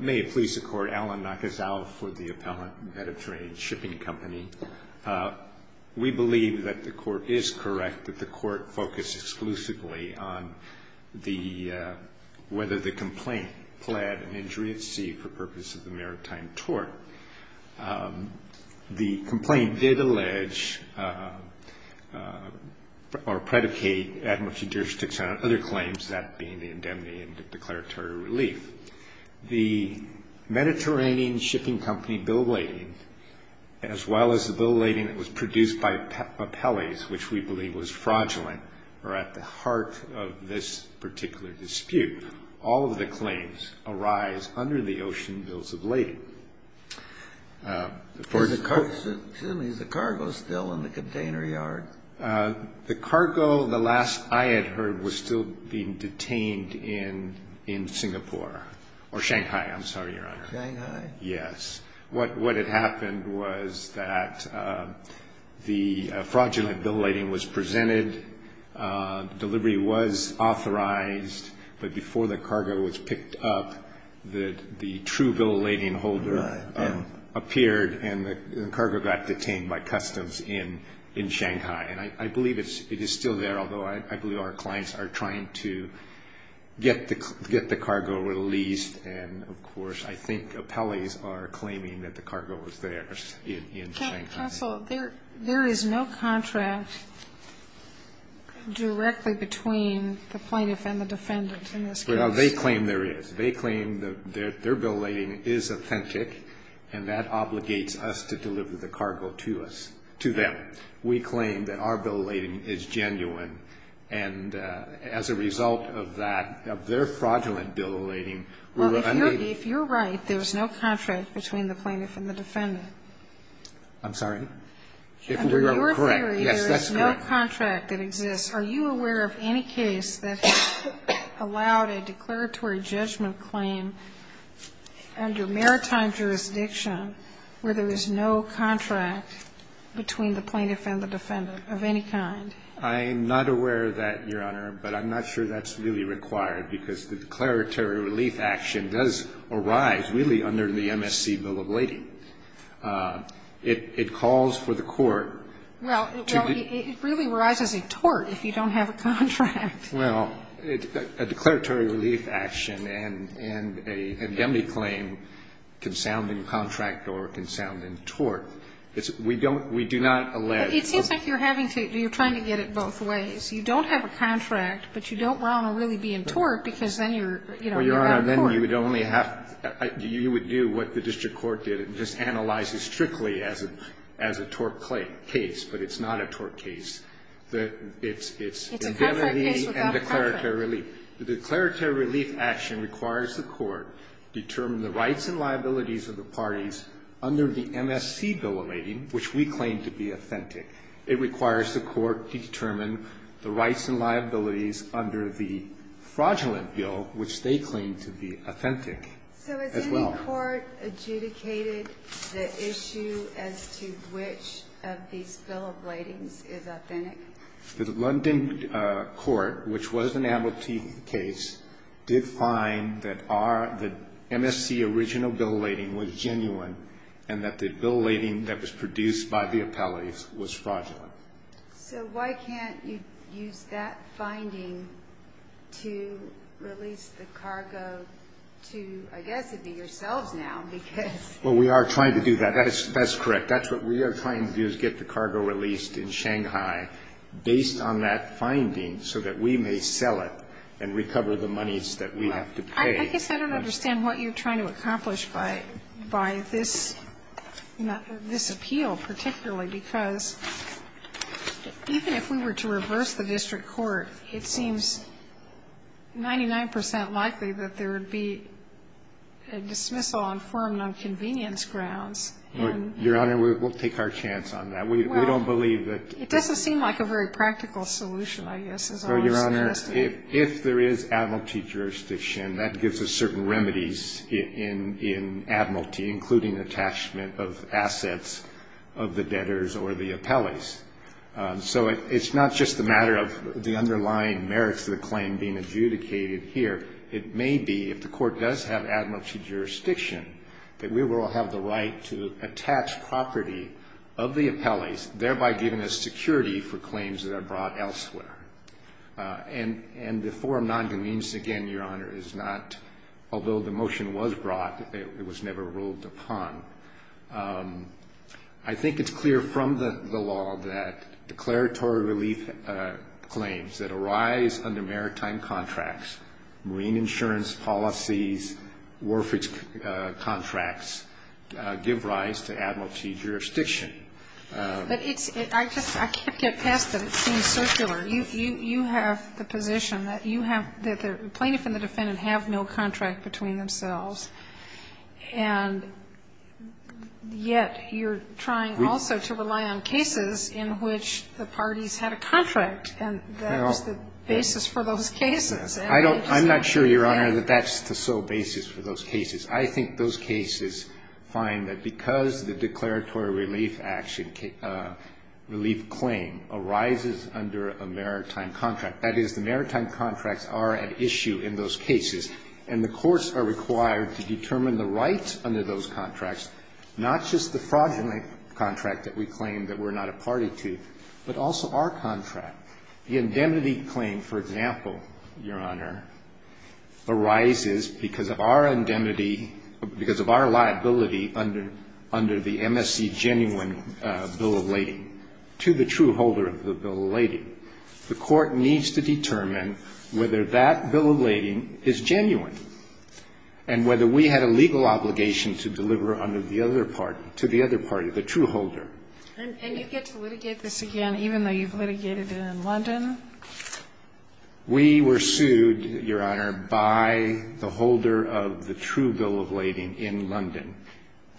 May it please the Court, Alan Nakasal for the Appellant, Mediterranean Shipping Company. We believe that the Court is correct that the Court focused exclusively on whether the complaint pled an injury at sea for purpose of the maritime tort. The complaint did allege or predicate, ad homo juduris texan, on other claims, that being the indemnity and the declaratory relief. The Mediterranean Shipping Company bill of lading, as well as the bill of lading that was produced by Pepeles, which we believe was fraudulent, are at the heart of this particular dispute. All of the claims arise under the ocean bills of lading. Is the cargo still in the container yard? The cargo, the last I had heard, was still being detained in Singapore. Or Shanghai, I'm sorry, Your Honor. Shanghai? Yes. What had happened was that the fraudulent bill of lading was presented, delivery was authorized, but before the cargo was picked up, the true bill of lading holder appeared and the cargo got detained by customs in Shanghai. And I believe it is still there, although I believe our clients are trying to get the cargo released. And, of course, I think Pepeles are claiming that the cargo was theirs in Shanghai. Counsel, there is no contract directly between the plaintiff and the defendant in this case. Well, they claim there is. They claim that their bill of lading is authentic and that obligates us to deliver the cargo to us, to them. We claim that our bill of lading is genuine. And as a result of that, of their fraudulent bill of lading, we were unabated. Well, if you're right, there is no contract between the plaintiff and the defendant. If we are correct. Yes, that's correct. Under your theory, there is no contract that exists. Are you aware of any case that allowed a declaratory judgment claim under maritime jurisdiction where there is no contract between the plaintiff and the defendant of any kind? I am not aware of that, Your Honor, but I'm not sure that's really required because the declaratory relief action does arise really under the MSC bill of lading. It calls for the court to be. Well, it really arises in tort if you don't have a contract. Well, a declaratory relief action and a indemnity claim can sound in contract or it can sound in tort. We don't, we do not allege. It seems like you're having to, you're trying to get it both ways. You don't have a contract, but you don't want to really be in tort because then you're, you know, in court. Well, Your Honor, then you would only have, you would do what the district court did and just analyze it strictly as a tort case, but it's not a tort case. It's indemnity and declaratory relief. The declaratory relief action requires the court to determine the rights and liabilities of the parties under the MSC bill of lading, which we claim to be authentic. It requires the court to determine the rights and liabilities under the fraudulent bill, which they claim to be authentic as well. Did the court adjudicate the issue as to which of these bill of ladings is authentic? The London court, which was an amnesty case, did find that our, the MSC original bill of lading was genuine and that the bill of lading that was produced by the appellate was fraudulent. So why can't you use that finding to release the cargo to, I guess, to be yourselves now, because? Well, we are trying to do that. That's correct. That's what we are trying to do is get the cargo released in Shanghai based on that finding so that we may sell it and recover the monies that we have to pay. I guess I don't understand what you're trying to accomplish by this, this appeal particularly, because even if we were to reverse the district court, it seems 99 percent likely that there would be a dismissal on firm and on convenience grounds. Your Honor, we'll take our chance on that. We don't believe that. It doesn't seem like a very practical solution, I guess, is all I'm suggesting. Your Honor, if there is admiralty jurisdiction, that gives us certain remedies in admiralty, including attachment of assets of the debtors or the appellates. So it's not just a matter of the underlying merits of the claim being adjudicated here. It may be, if the court does have admiralty jurisdiction, that we will have the right to attach property of the appellates, thereby giving us security for claims that are brought elsewhere. And the forum non-convenience, again, Your Honor, is not, although the motion was brought, it was never ruled upon. I think it's clear from the law that declaratory relief claims that arise under maritime contracts, marine insurance policies, warfare contracts, give rise to admiralty jurisdiction. But it's – I can't get past it. It seems circular. You have the position that you have – that the plaintiff and the defendant have no contract between themselves, and yet you're trying also to rely on cases in which the parties had a contract, and that's the basis for those cases. I don't – I'm not sure, Your Honor, that that's the sole basis for those cases. I think those cases find that because the declaratory relief action – relief claim arises under a maritime contract, that is, the maritime contracts are at issue in those cases, and the courts are required to determine the rights under those contracts, not just the fraudulent contract that we claim that we're not a party to, but also our contract. The indemnity claim, for example, Your Honor, arises because of our indemnity – because of our liability under the MSC genuine bill of lading to the true holder of the bill of lading. The court needs to determine whether that bill of lading is genuine and whether we had a legal obligation to deliver under the other party – to the other party, the true holder. And you get to litigate this again, even though you've litigated it in London? We were sued, Your Honor, by the holder of the true bill of lading in London.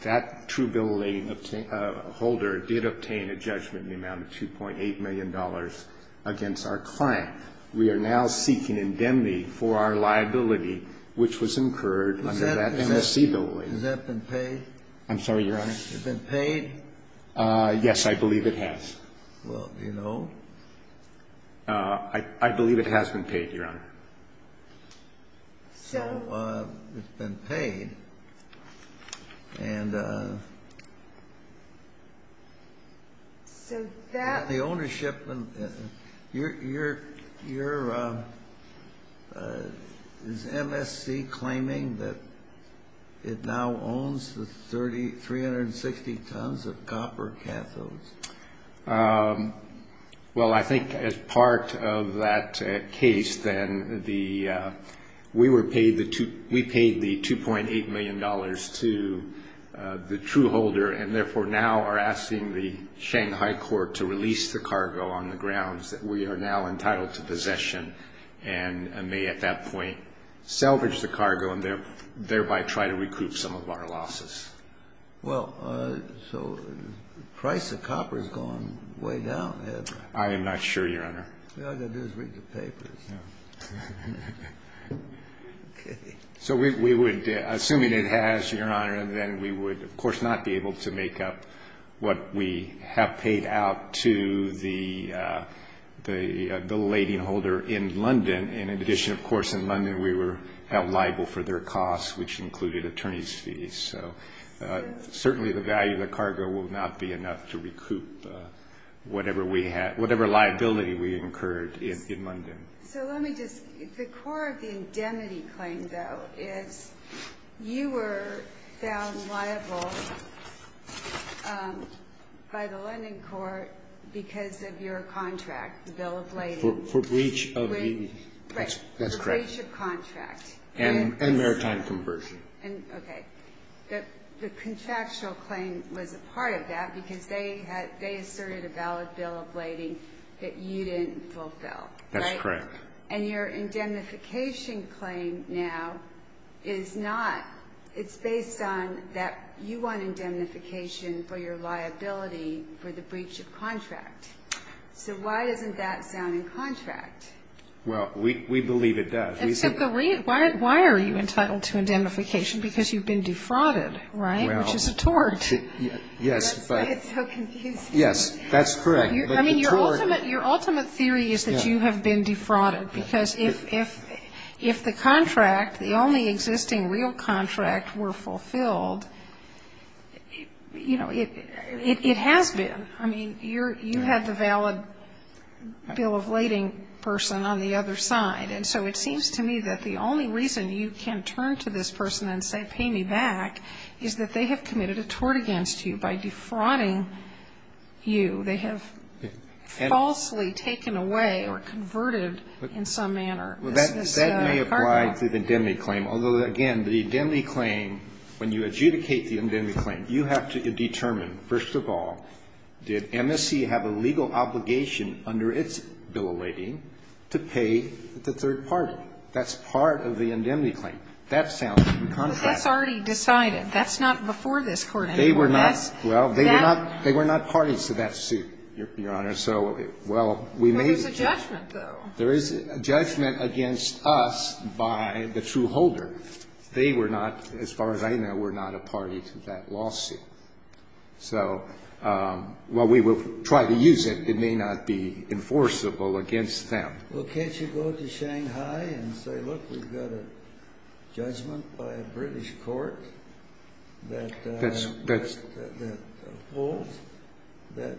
That true bill of lading holder did obtain a judgment in the amount of $2.8 million against our client. We are now seeking indemnity for our liability, which was incurred under that MSC bill of lading. Has that been paid? I'm sorry, Your Honor? Has it been paid? Yes, I believe it has. Well, do you know? I believe it has been paid, Your Honor. So it's been paid. And the ownership – you're – is MSC claiming that it now owns the 360 tons of copper cathodes? Well, I think as part of that case, then, the – we were paid the – we paid the $2.8 million to the true holder and, therefore, now are asking the Shanghai Court to release the cargo on the grounds that we are now entitled to possession and may, at that point, salvage the cargo and thereby try to recoup some of our losses. Well, so the price of copper has gone way down, has it? I am not sure, Your Honor. All you've got to do is read the papers. Yeah. Okay. So we would – assuming it has, Your Honor, then we would, of course, not be able to make up what we have paid out to the bill of lading holder in London. And in addition, of course, in London, we were held liable for their costs, which included attorney's fees. So certainly the value of the cargo will not be enough to recoup whatever we had – whatever liability we incurred in London. So let me just – the core of the indemnity claim, though, is you were found liable by the London court because of your contract, the bill of lading. For breach of the – that's correct. Right, for breach of contract. And maritime conversion. Okay. The contractual claim was a part of that because they asserted a valid bill of lading that you didn't fulfill, right? That's correct. And your indemnification claim now is not – it's based on that you want indemnification for your liability for the breach of contract. So why doesn't that sound in contract? Well, we believe it does. Why are you entitled to indemnification? Because you've been defrauded, right, which is a tort. Yes. It's so confusing. Yes, that's correct. I mean, your ultimate theory is that you have been defrauded because if the contract, the only existing real contract were fulfilled, you know, it has been. I mean, you had the valid bill of lading person on the other side. And so it seems to me that the only reason you can turn to this person and say pay me back is that they have committed a tort against you by defrauding you. They have falsely taken away or converted in some manner. That may apply to the indemnity claim. Although, again, the indemnity claim, when you adjudicate the indemnity claim, you have to determine, first of all, did MSC have a legal obligation under its bill of lading to pay the third party? That's part of the indemnity claim. That sounds like a contract. But that's already decided. That's not before this Court anymore. They were not. Well, they were not parties to that suit, Your Honor. So, well, we may be. But there's a judgment, though. There is a judgment against us by the true holder. They were not, as far as I know, were not a party to that lawsuit. So, while we will try to use it, it may not be enforceable against them. Well, can't you go to Shanghai and say, look, we've got a judgment by a British court that holds that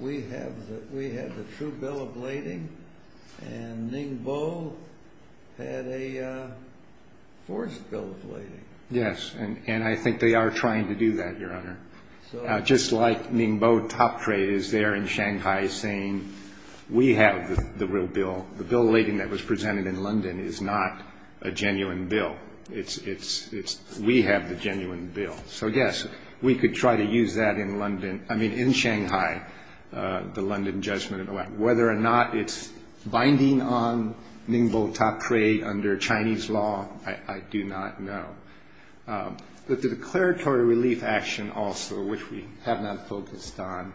we have the true bill of lading and Ningbo had a forced bill of lading. Yes, and I think they are trying to do that, Your Honor. Just like Ningbo Tapre is there in Shanghai saying we have the real bill. The bill of lading that was presented in London is not a genuine bill. It's we have the genuine bill. So, yes, we could try to use that in London. I mean, in Shanghai, the London judgment. Whether or not it's binding on Ningbo Tapre under Chinese law, I do not know. But the declaratory relief action also, which we have not focused on,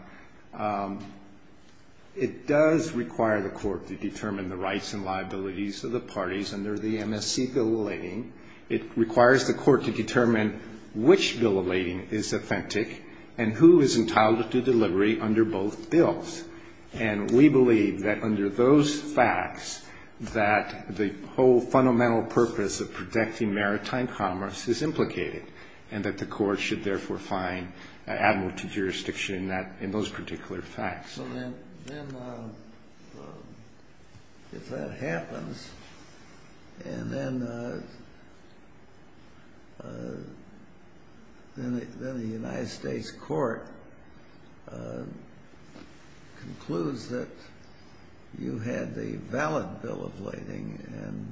it does require the court to determine the rights and liabilities of the parties under the MSC bill of lading. It requires the court to determine which bill of lading is authentic and who is entitled to delivery under both bills. And we believe that under those facts that the whole fundamental purpose of protecting maritime commerce is implicated and that the court should therefore find admiralty jurisdiction in those particular facts. So then if that happens and then the United States court concludes that you have had the valid bill of lading and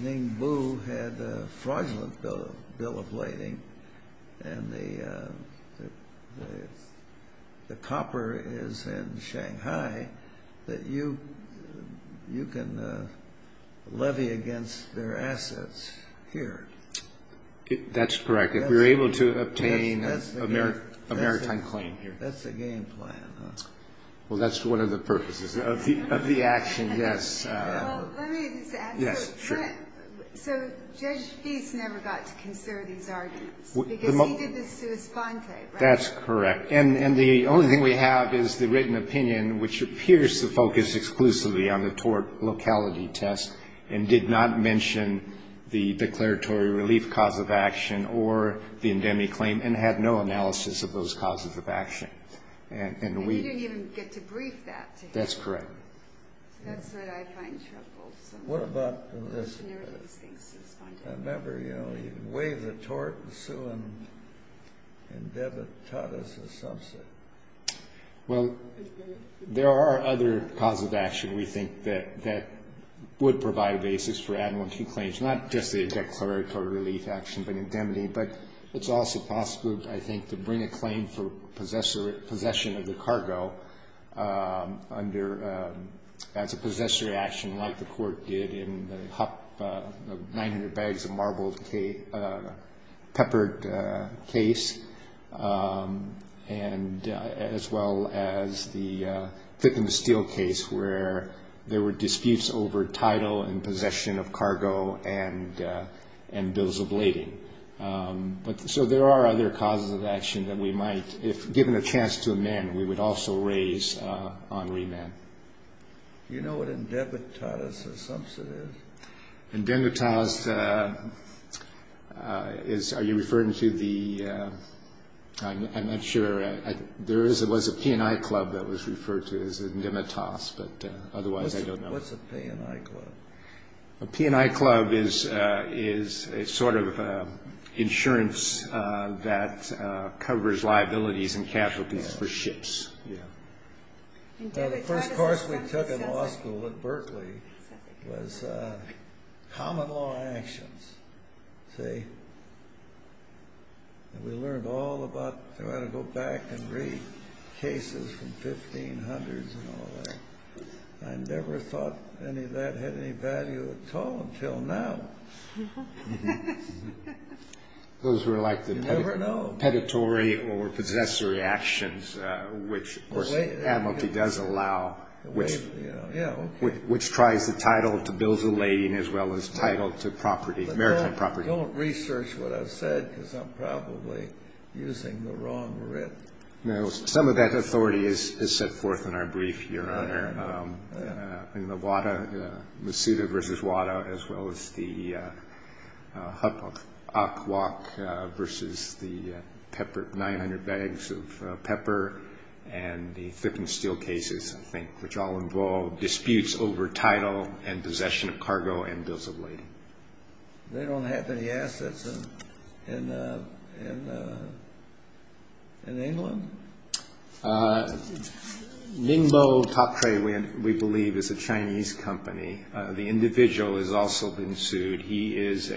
Ningbo had a fraudulent bill of lading and the copper is in Shanghai, that you can levy against their assets here. That's correct. If we're able to obtain a maritime claim here. That's the game plan. Well, that's one of the purposes of the action, yes. Let me just ask. Yes, sure. So Judge Feist never got to consider these arguments? Because he did the sua sponte, right? That's correct. And the only thing we have is the written opinion, which appears to focus exclusively on the tort locality test and did not mention the declaratory relief cause of action or the indemnity claim and had no analysis of those causes of action. And he didn't even get to brief that. That's correct. That's what I find troublesome. What about this? I remember, you know, he waived the tort and sued and taught us a subset. Well, there are other causes of action, we think, that would provide a basis for admiralty claims, not just the declaratory relief action but indemnity, but it's also possible, I think, to bring a claim for possession of the cargo under as a possessory action like the court did in the Hup 900 bags of marbled peppered case as well as the Clickham Steel case where there were other causes of action that we might, if given a chance to amend, we would also raise on remand. Do you know what indemnitas or subset is? Indemnitas is, are you referring to the, I'm not sure. There was a P&I club that was referred to as indemnitas, but otherwise I don't know. What's a P&I club? A P&I club is a sort of insurance that covers liabilities and casualties for ships. The first course we took in law school at Berkeley was common law actions, see, and we learned all about how to go back and read cases from 1500s and all that. I never thought any of that had any value at all until now. You never know. Those were like the peditory or possessory actions which, of course, the admiralty does allow, which tries the title to bills of lading as well as title to property, maritime property. Don't research what I've said because I'm probably using the wrong writ. No, some of that authority is set forth in our brief, Your Honor. In the WADA, Masuda versus WADA, as well as the Hukwok versus the pepper, 900 bags of pepper and the flipping steel cases, I think, which all involve disputes over title and possession of cargo and bills of lading. They don't have any assets in England? Ningbo Top Trade, we believe, is a Chinese company. The individual has also been sued. He is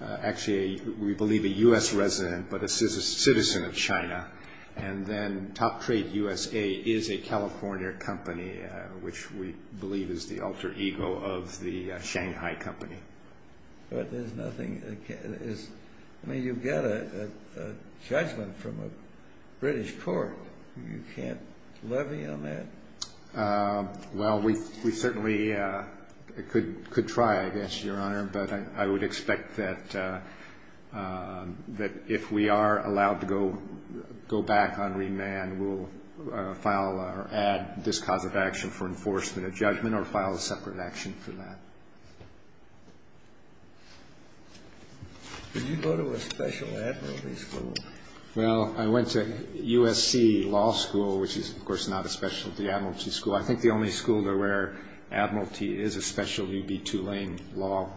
actually, we believe, a U.S. resident but is a citizen of China. And then Top Trade USA is a California company, which we believe is the You've got a judgment from a British court. You can't levy on that? Well, we certainly could try, I guess, Your Honor. But I would expect that if we are allowed to go back on remand, we'll file or add this cause of action for enforcement of judgment or file a separate action for that. Did you go to a special admiralty school? Well, I went to USC Law School, which is, of course, not a specialty admiralty school. I think the only school where admiralty is a specialty would be Tulane Law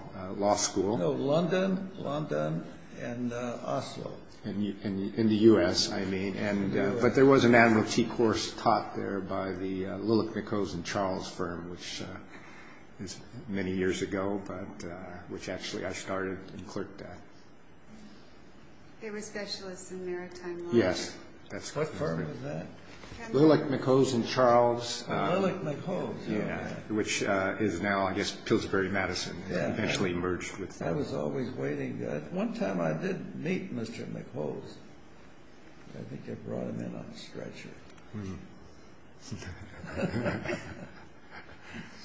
School. No, London, London and Oslo. In the U.S. But there was an admiralty course taught there by the Lillick, McHose and Charles firm, which is many years ago, but which actually I started and clerked at. They were specialists in maritime law? Yes. What firm was that? Lillick, McHose and Charles. Oh, Lillick, McHose. Yeah, which is now, I guess, Pillsbury-Madison, eventually merged with I was always waiting. One time I did meet Mr. McHose. I think I brought him in on a stretcher. Mm-hmm.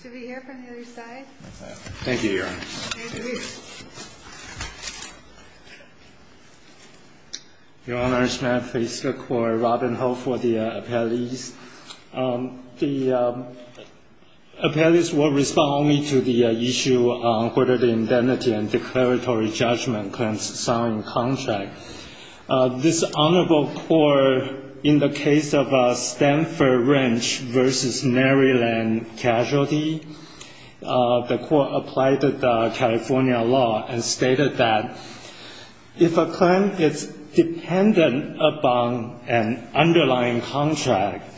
Should we hear from the other side? Thank you, Your Honor. Thank you. Your Honor, may I please look for Robin Ho for the appellees? The appellees will respond only to the issue on whether the indemnity and declaratory judgment can sign contract. This honorable court, in the case of Stanford Wrench v. Maryland Casualty, the court applied the California law and stated that if a claim is dependent upon an underlying contract,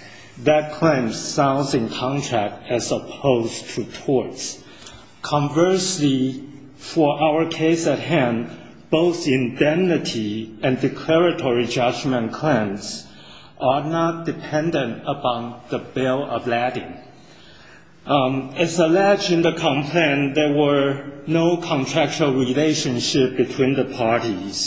that claim signs in contract as opposed to torts. Conversely, for our case at hand, both indemnity and declaratory judgment claims are not dependent upon the bill of lading. As alleged in the complaint, there were no contractual relationships between the parties,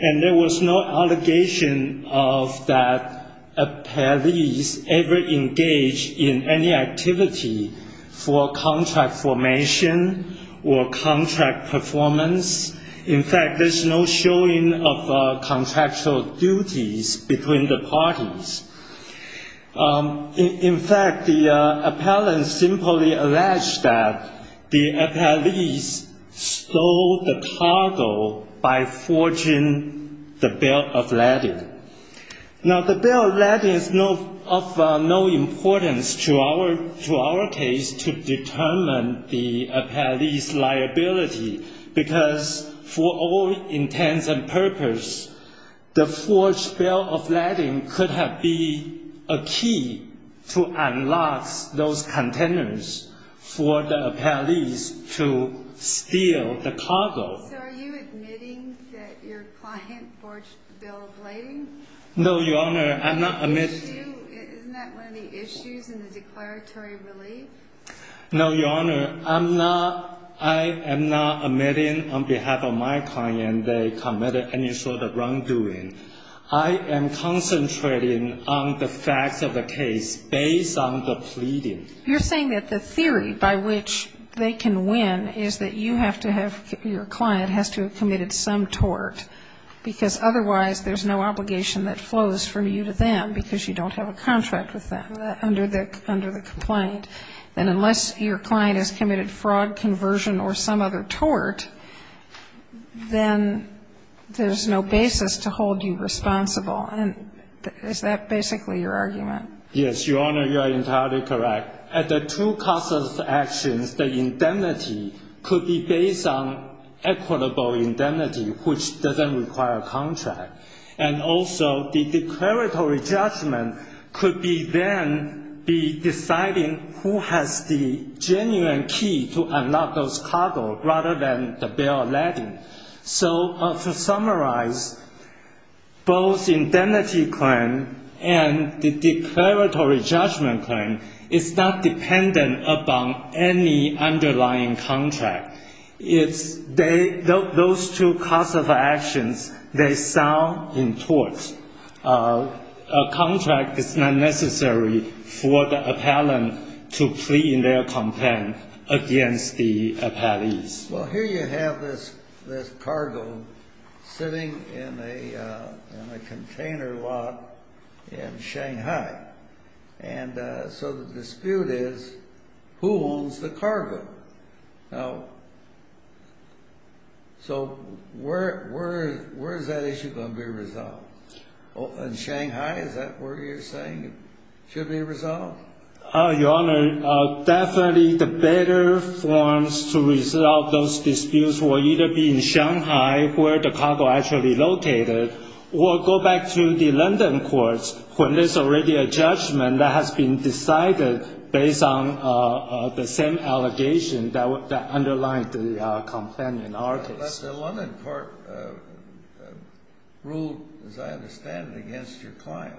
and there was no allegation of that appellees ever engaged in any activity for contract formation or contract performance. In fact, there's no showing of contractual duties between the parties. In fact, the appellant simply alleged that the appellees stole the cargo by forging the bill of lading. Now, the bill of lading is of no importance to our case to determine the appellee's liability because for all intents and purposes, the forged bill of lading could have been a key to unlock those containers for the appellees to steal the cargo. So are you admitting that your client forged the bill of lading? No, Your Honor, I'm not admitting... Isn't that one of the issues in the declaratory relief? No, Your Honor. I'm not, I am not admitting on behalf of my client they committed any sort of wrongdoing. I am concentrating on the facts of the case based on the pleading. You're saying that the theory by which they can win is that you have to have, your client has to have committed some tort, because otherwise there's no obligation that flows from you to them because you don't have a contract with them under the complaint. And unless your client has committed fraud, conversion, or some other tort, then there's no basis to hold you responsible. And is that basically your argument? Yes, Your Honor, you are entirely correct. At the two causes of actions, the indemnity could be based on equitable indemnity, which doesn't require a contract. And also the declaratory judgment could be then be deciding who has the genuine key to unlock those cargo rather than the bill of lading. So to summarize, both indemnity claim and the declaratory judgment claim is not dependent upon any underlying contract. Those two cause of actions, they sound in tort. A contract is not necessary for the appellant to plead in their complaint against the appellees. Well, here you have this cargo sitting in a container lot in Shanghai. And so the dispute is, who owns the cargo? Now, so where is that issue going to be resolved? In Shanghai, is that where you're saying it should be resolved? Your Honor, definitely the better forms to resolve those disputes will either be in Shanghai, where the cargo actually located, or go back to the London courts when there's already a judgment that has been decided based on the same allegation that underlined the complaint in our case. But the London court ruled, as I understand it, against your client.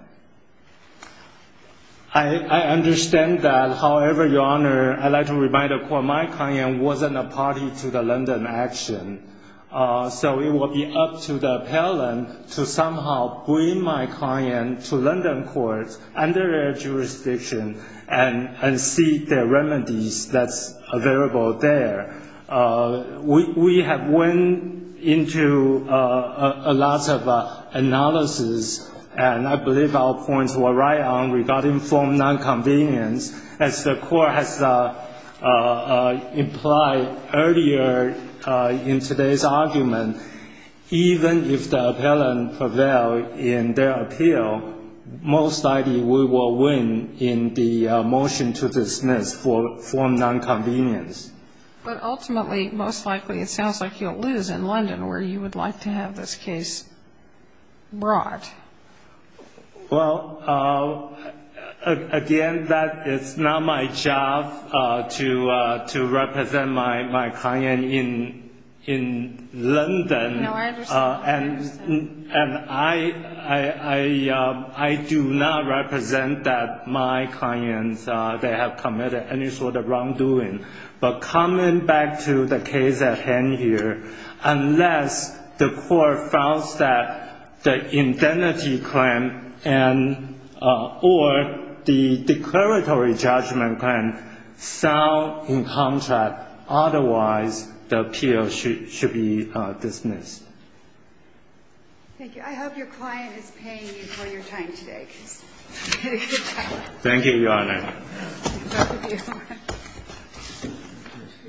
I understand that. However, Your Honor, I'd like to remind the court my client wasn't a party to the London action. So it will be up to the appellant to somehow bring my client to London courts under their jurisdiction and seek the remedies that's available there. We have went into a lot of analysis, and I believe our points were right on today's argument. Even if the appellant prevail in their appeal, most likely we will win in the motion to dismiss for nonconvenience. But ultimately, most likely, it sounds like you'll lose in London, where you would like to have this case brought. Well, again, it's not my job to represent my client in London. No, I understand. And I do not represent my client. They have committed any sort of wrongdoing. But coming back to the case at hand here, unless the court found that the indemnity claim or the declaratory judgment claim sound in contrast, otherwise the appeal should be dismissed. Thank you. I hope your client is paying you for your time today. Thank you, Your Honor.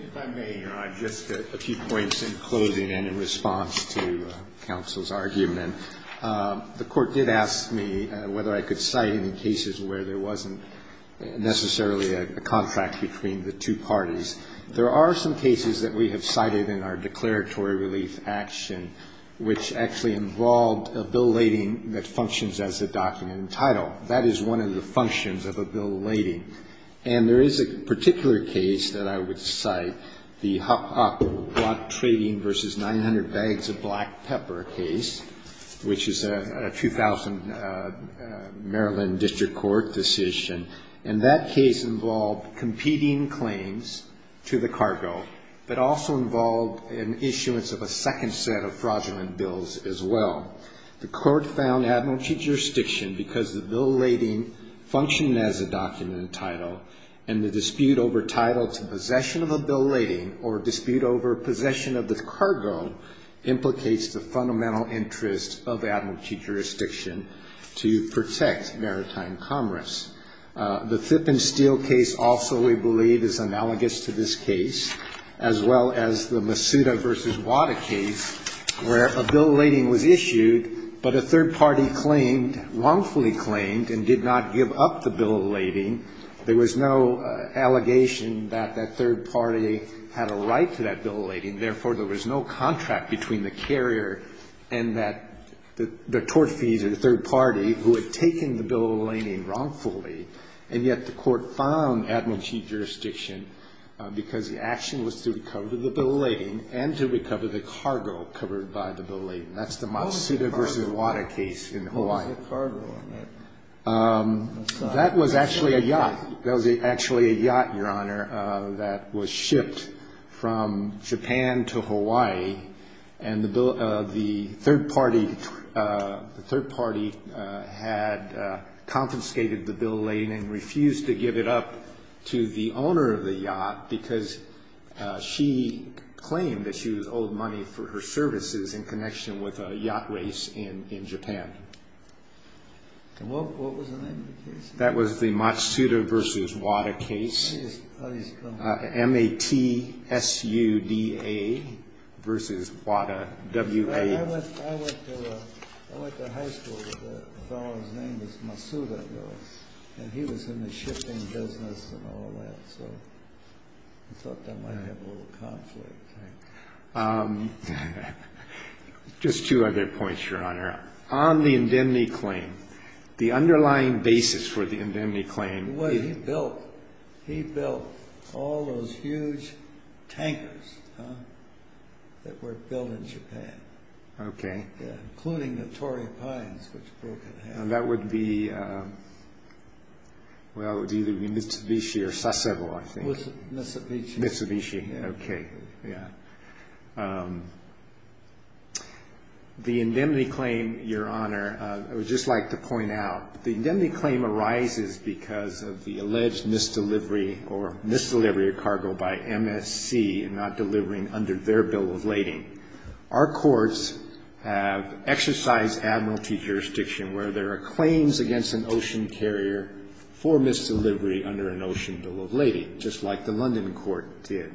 If I may, Your Honor, just a few points in closing and in response to counsel's argument. The court did ask me whether I could cite any cases where there wasn't necessarily a contract between the two parties. There are some cases that we have cited in our declaratory relief action which actually involved a bill lading that functions as a document in title. That is one of the functions of a bill lading. And there is a particular case that I would cite, the Hop-Up Block Trading v. 900 Bags of Black Pepper case, which is a 2000 Maryland District Court decision. And that case involved competing claims to the cargo but also involved an issuance of a second set of fraudulent bills as well. The court found admiralty jurisdiction because the bill lading functioned as a document in title and the dispute over title to possession of a bill lading or dispute over possession of the cargo implicates the fundamental interest of admiralty jurisdiction to protect maritime commerce. The Thip and Steel case also, we believe, is analogous to this case, as well as the Masuda v. Wada case where a bill lading was issued but a third party claimed, wrongfully claimed, and did not give up the bill lading. There was no allegation that that third party had a right to that bill lading. Therefore, there was no contract between the carrier and the tort fees or the third party who had taken the bill lading wrongfully. And yet the court found admiralty jurisdiction because the action was through to recover the bill lading and to recover the cargo covered by the bill lading. That's the Masuda v. Wada case in Hawaii. That was actually a yacht. That was actually a yacht, Your Honor, that was shipped from Japan to Hawaii. And the third party had confiscated the bill lading and refused to give it up to the He claimed that she was owed money for her services in connection with a yacht race in Japan. And what was the name of the case? That was the Masuda v. Wada case. M-A-T-S-U-D-A v. Wada, W-A. I went to high school with a fellow whose name was Masuda. And he was in the shipping business and all that. So I thought that might have a little conflict. Just two other points, Your Honor. On the indemnity claim, the underlying basis for the indemnity claim. He built all those huge tankers that were built in Japan. Okay. Including the Torrey Pines, which broke in half. That would be, well, it would either be Mitsubishi or Sasebo, I think. Mitsubishi. Okay. The indemnity claim, Your Honor, I would just like to point out. The indemnity claim arises because of the alleged misdelivery or misdelivery of cargo by MSC and not delivering under their bill of lading. Our courts have exercised admiralty jurisdiction, where there are claims against an ocean carrier for misdelivery under an ocean bill of lading, just like the London court did.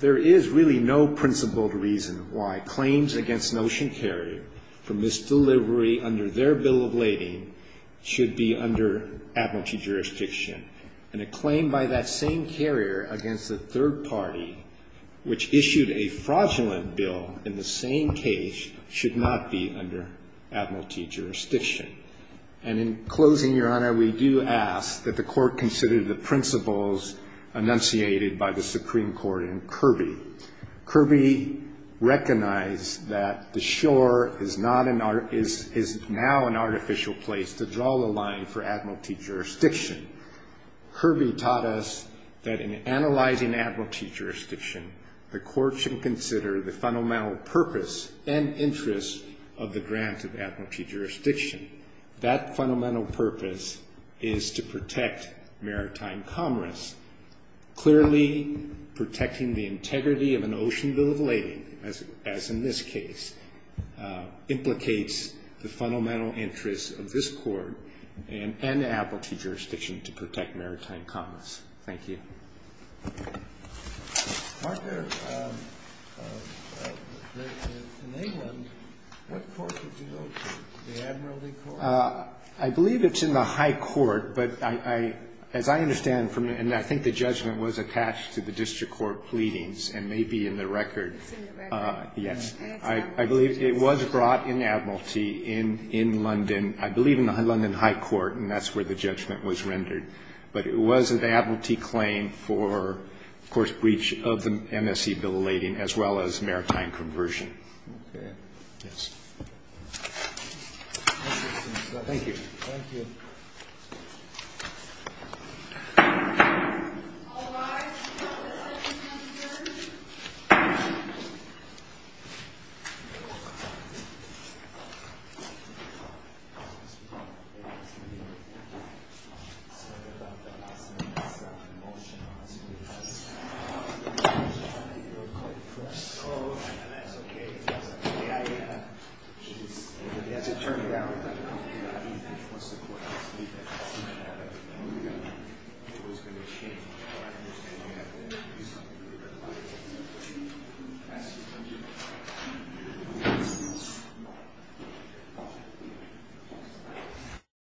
There is really no principled reason why claims against an ocean carrier for misdelivery under their bill of lading should be under admiralty jurisdiction. And a claim by that same carrier against a third party, which issued a fraudulent bill in the same case, should not be under admiralty jurisdiction. And in closing, Your Honor, we do ask that the court consider the principles enunciated by the Supreme Court in Kirby. Kirby recognized that the shore is now an artificial place to draw the line for admiralty jurisdiction. Kirby taught us that in analyzing admiralty jurisdiction, the court should consider the fundamental purpose and interest of the grant of admiralty jurisdiction. That fundamental purpose is to protect maritime commerce. Clearly, protecting the integrity of an ocean bill of lading, as in this case, implicates the fundamental interest of this court and admiralty jurisdiction to protect maritime commerce. Thank you. I believe it's in the high court, but as I understand from it, and I think the judgment was attached to the district court pleadings and may be in the record. Yes. I believe it was brought in admiralty in London. I believe in the London high court, and that's where the judgment was rendered. But it was an admiralty claim for, of course, breach of the MSC bill of lading, as well as maritime conversion. Okay. Yes. Thank you. Thank you. Thank you. Thank you.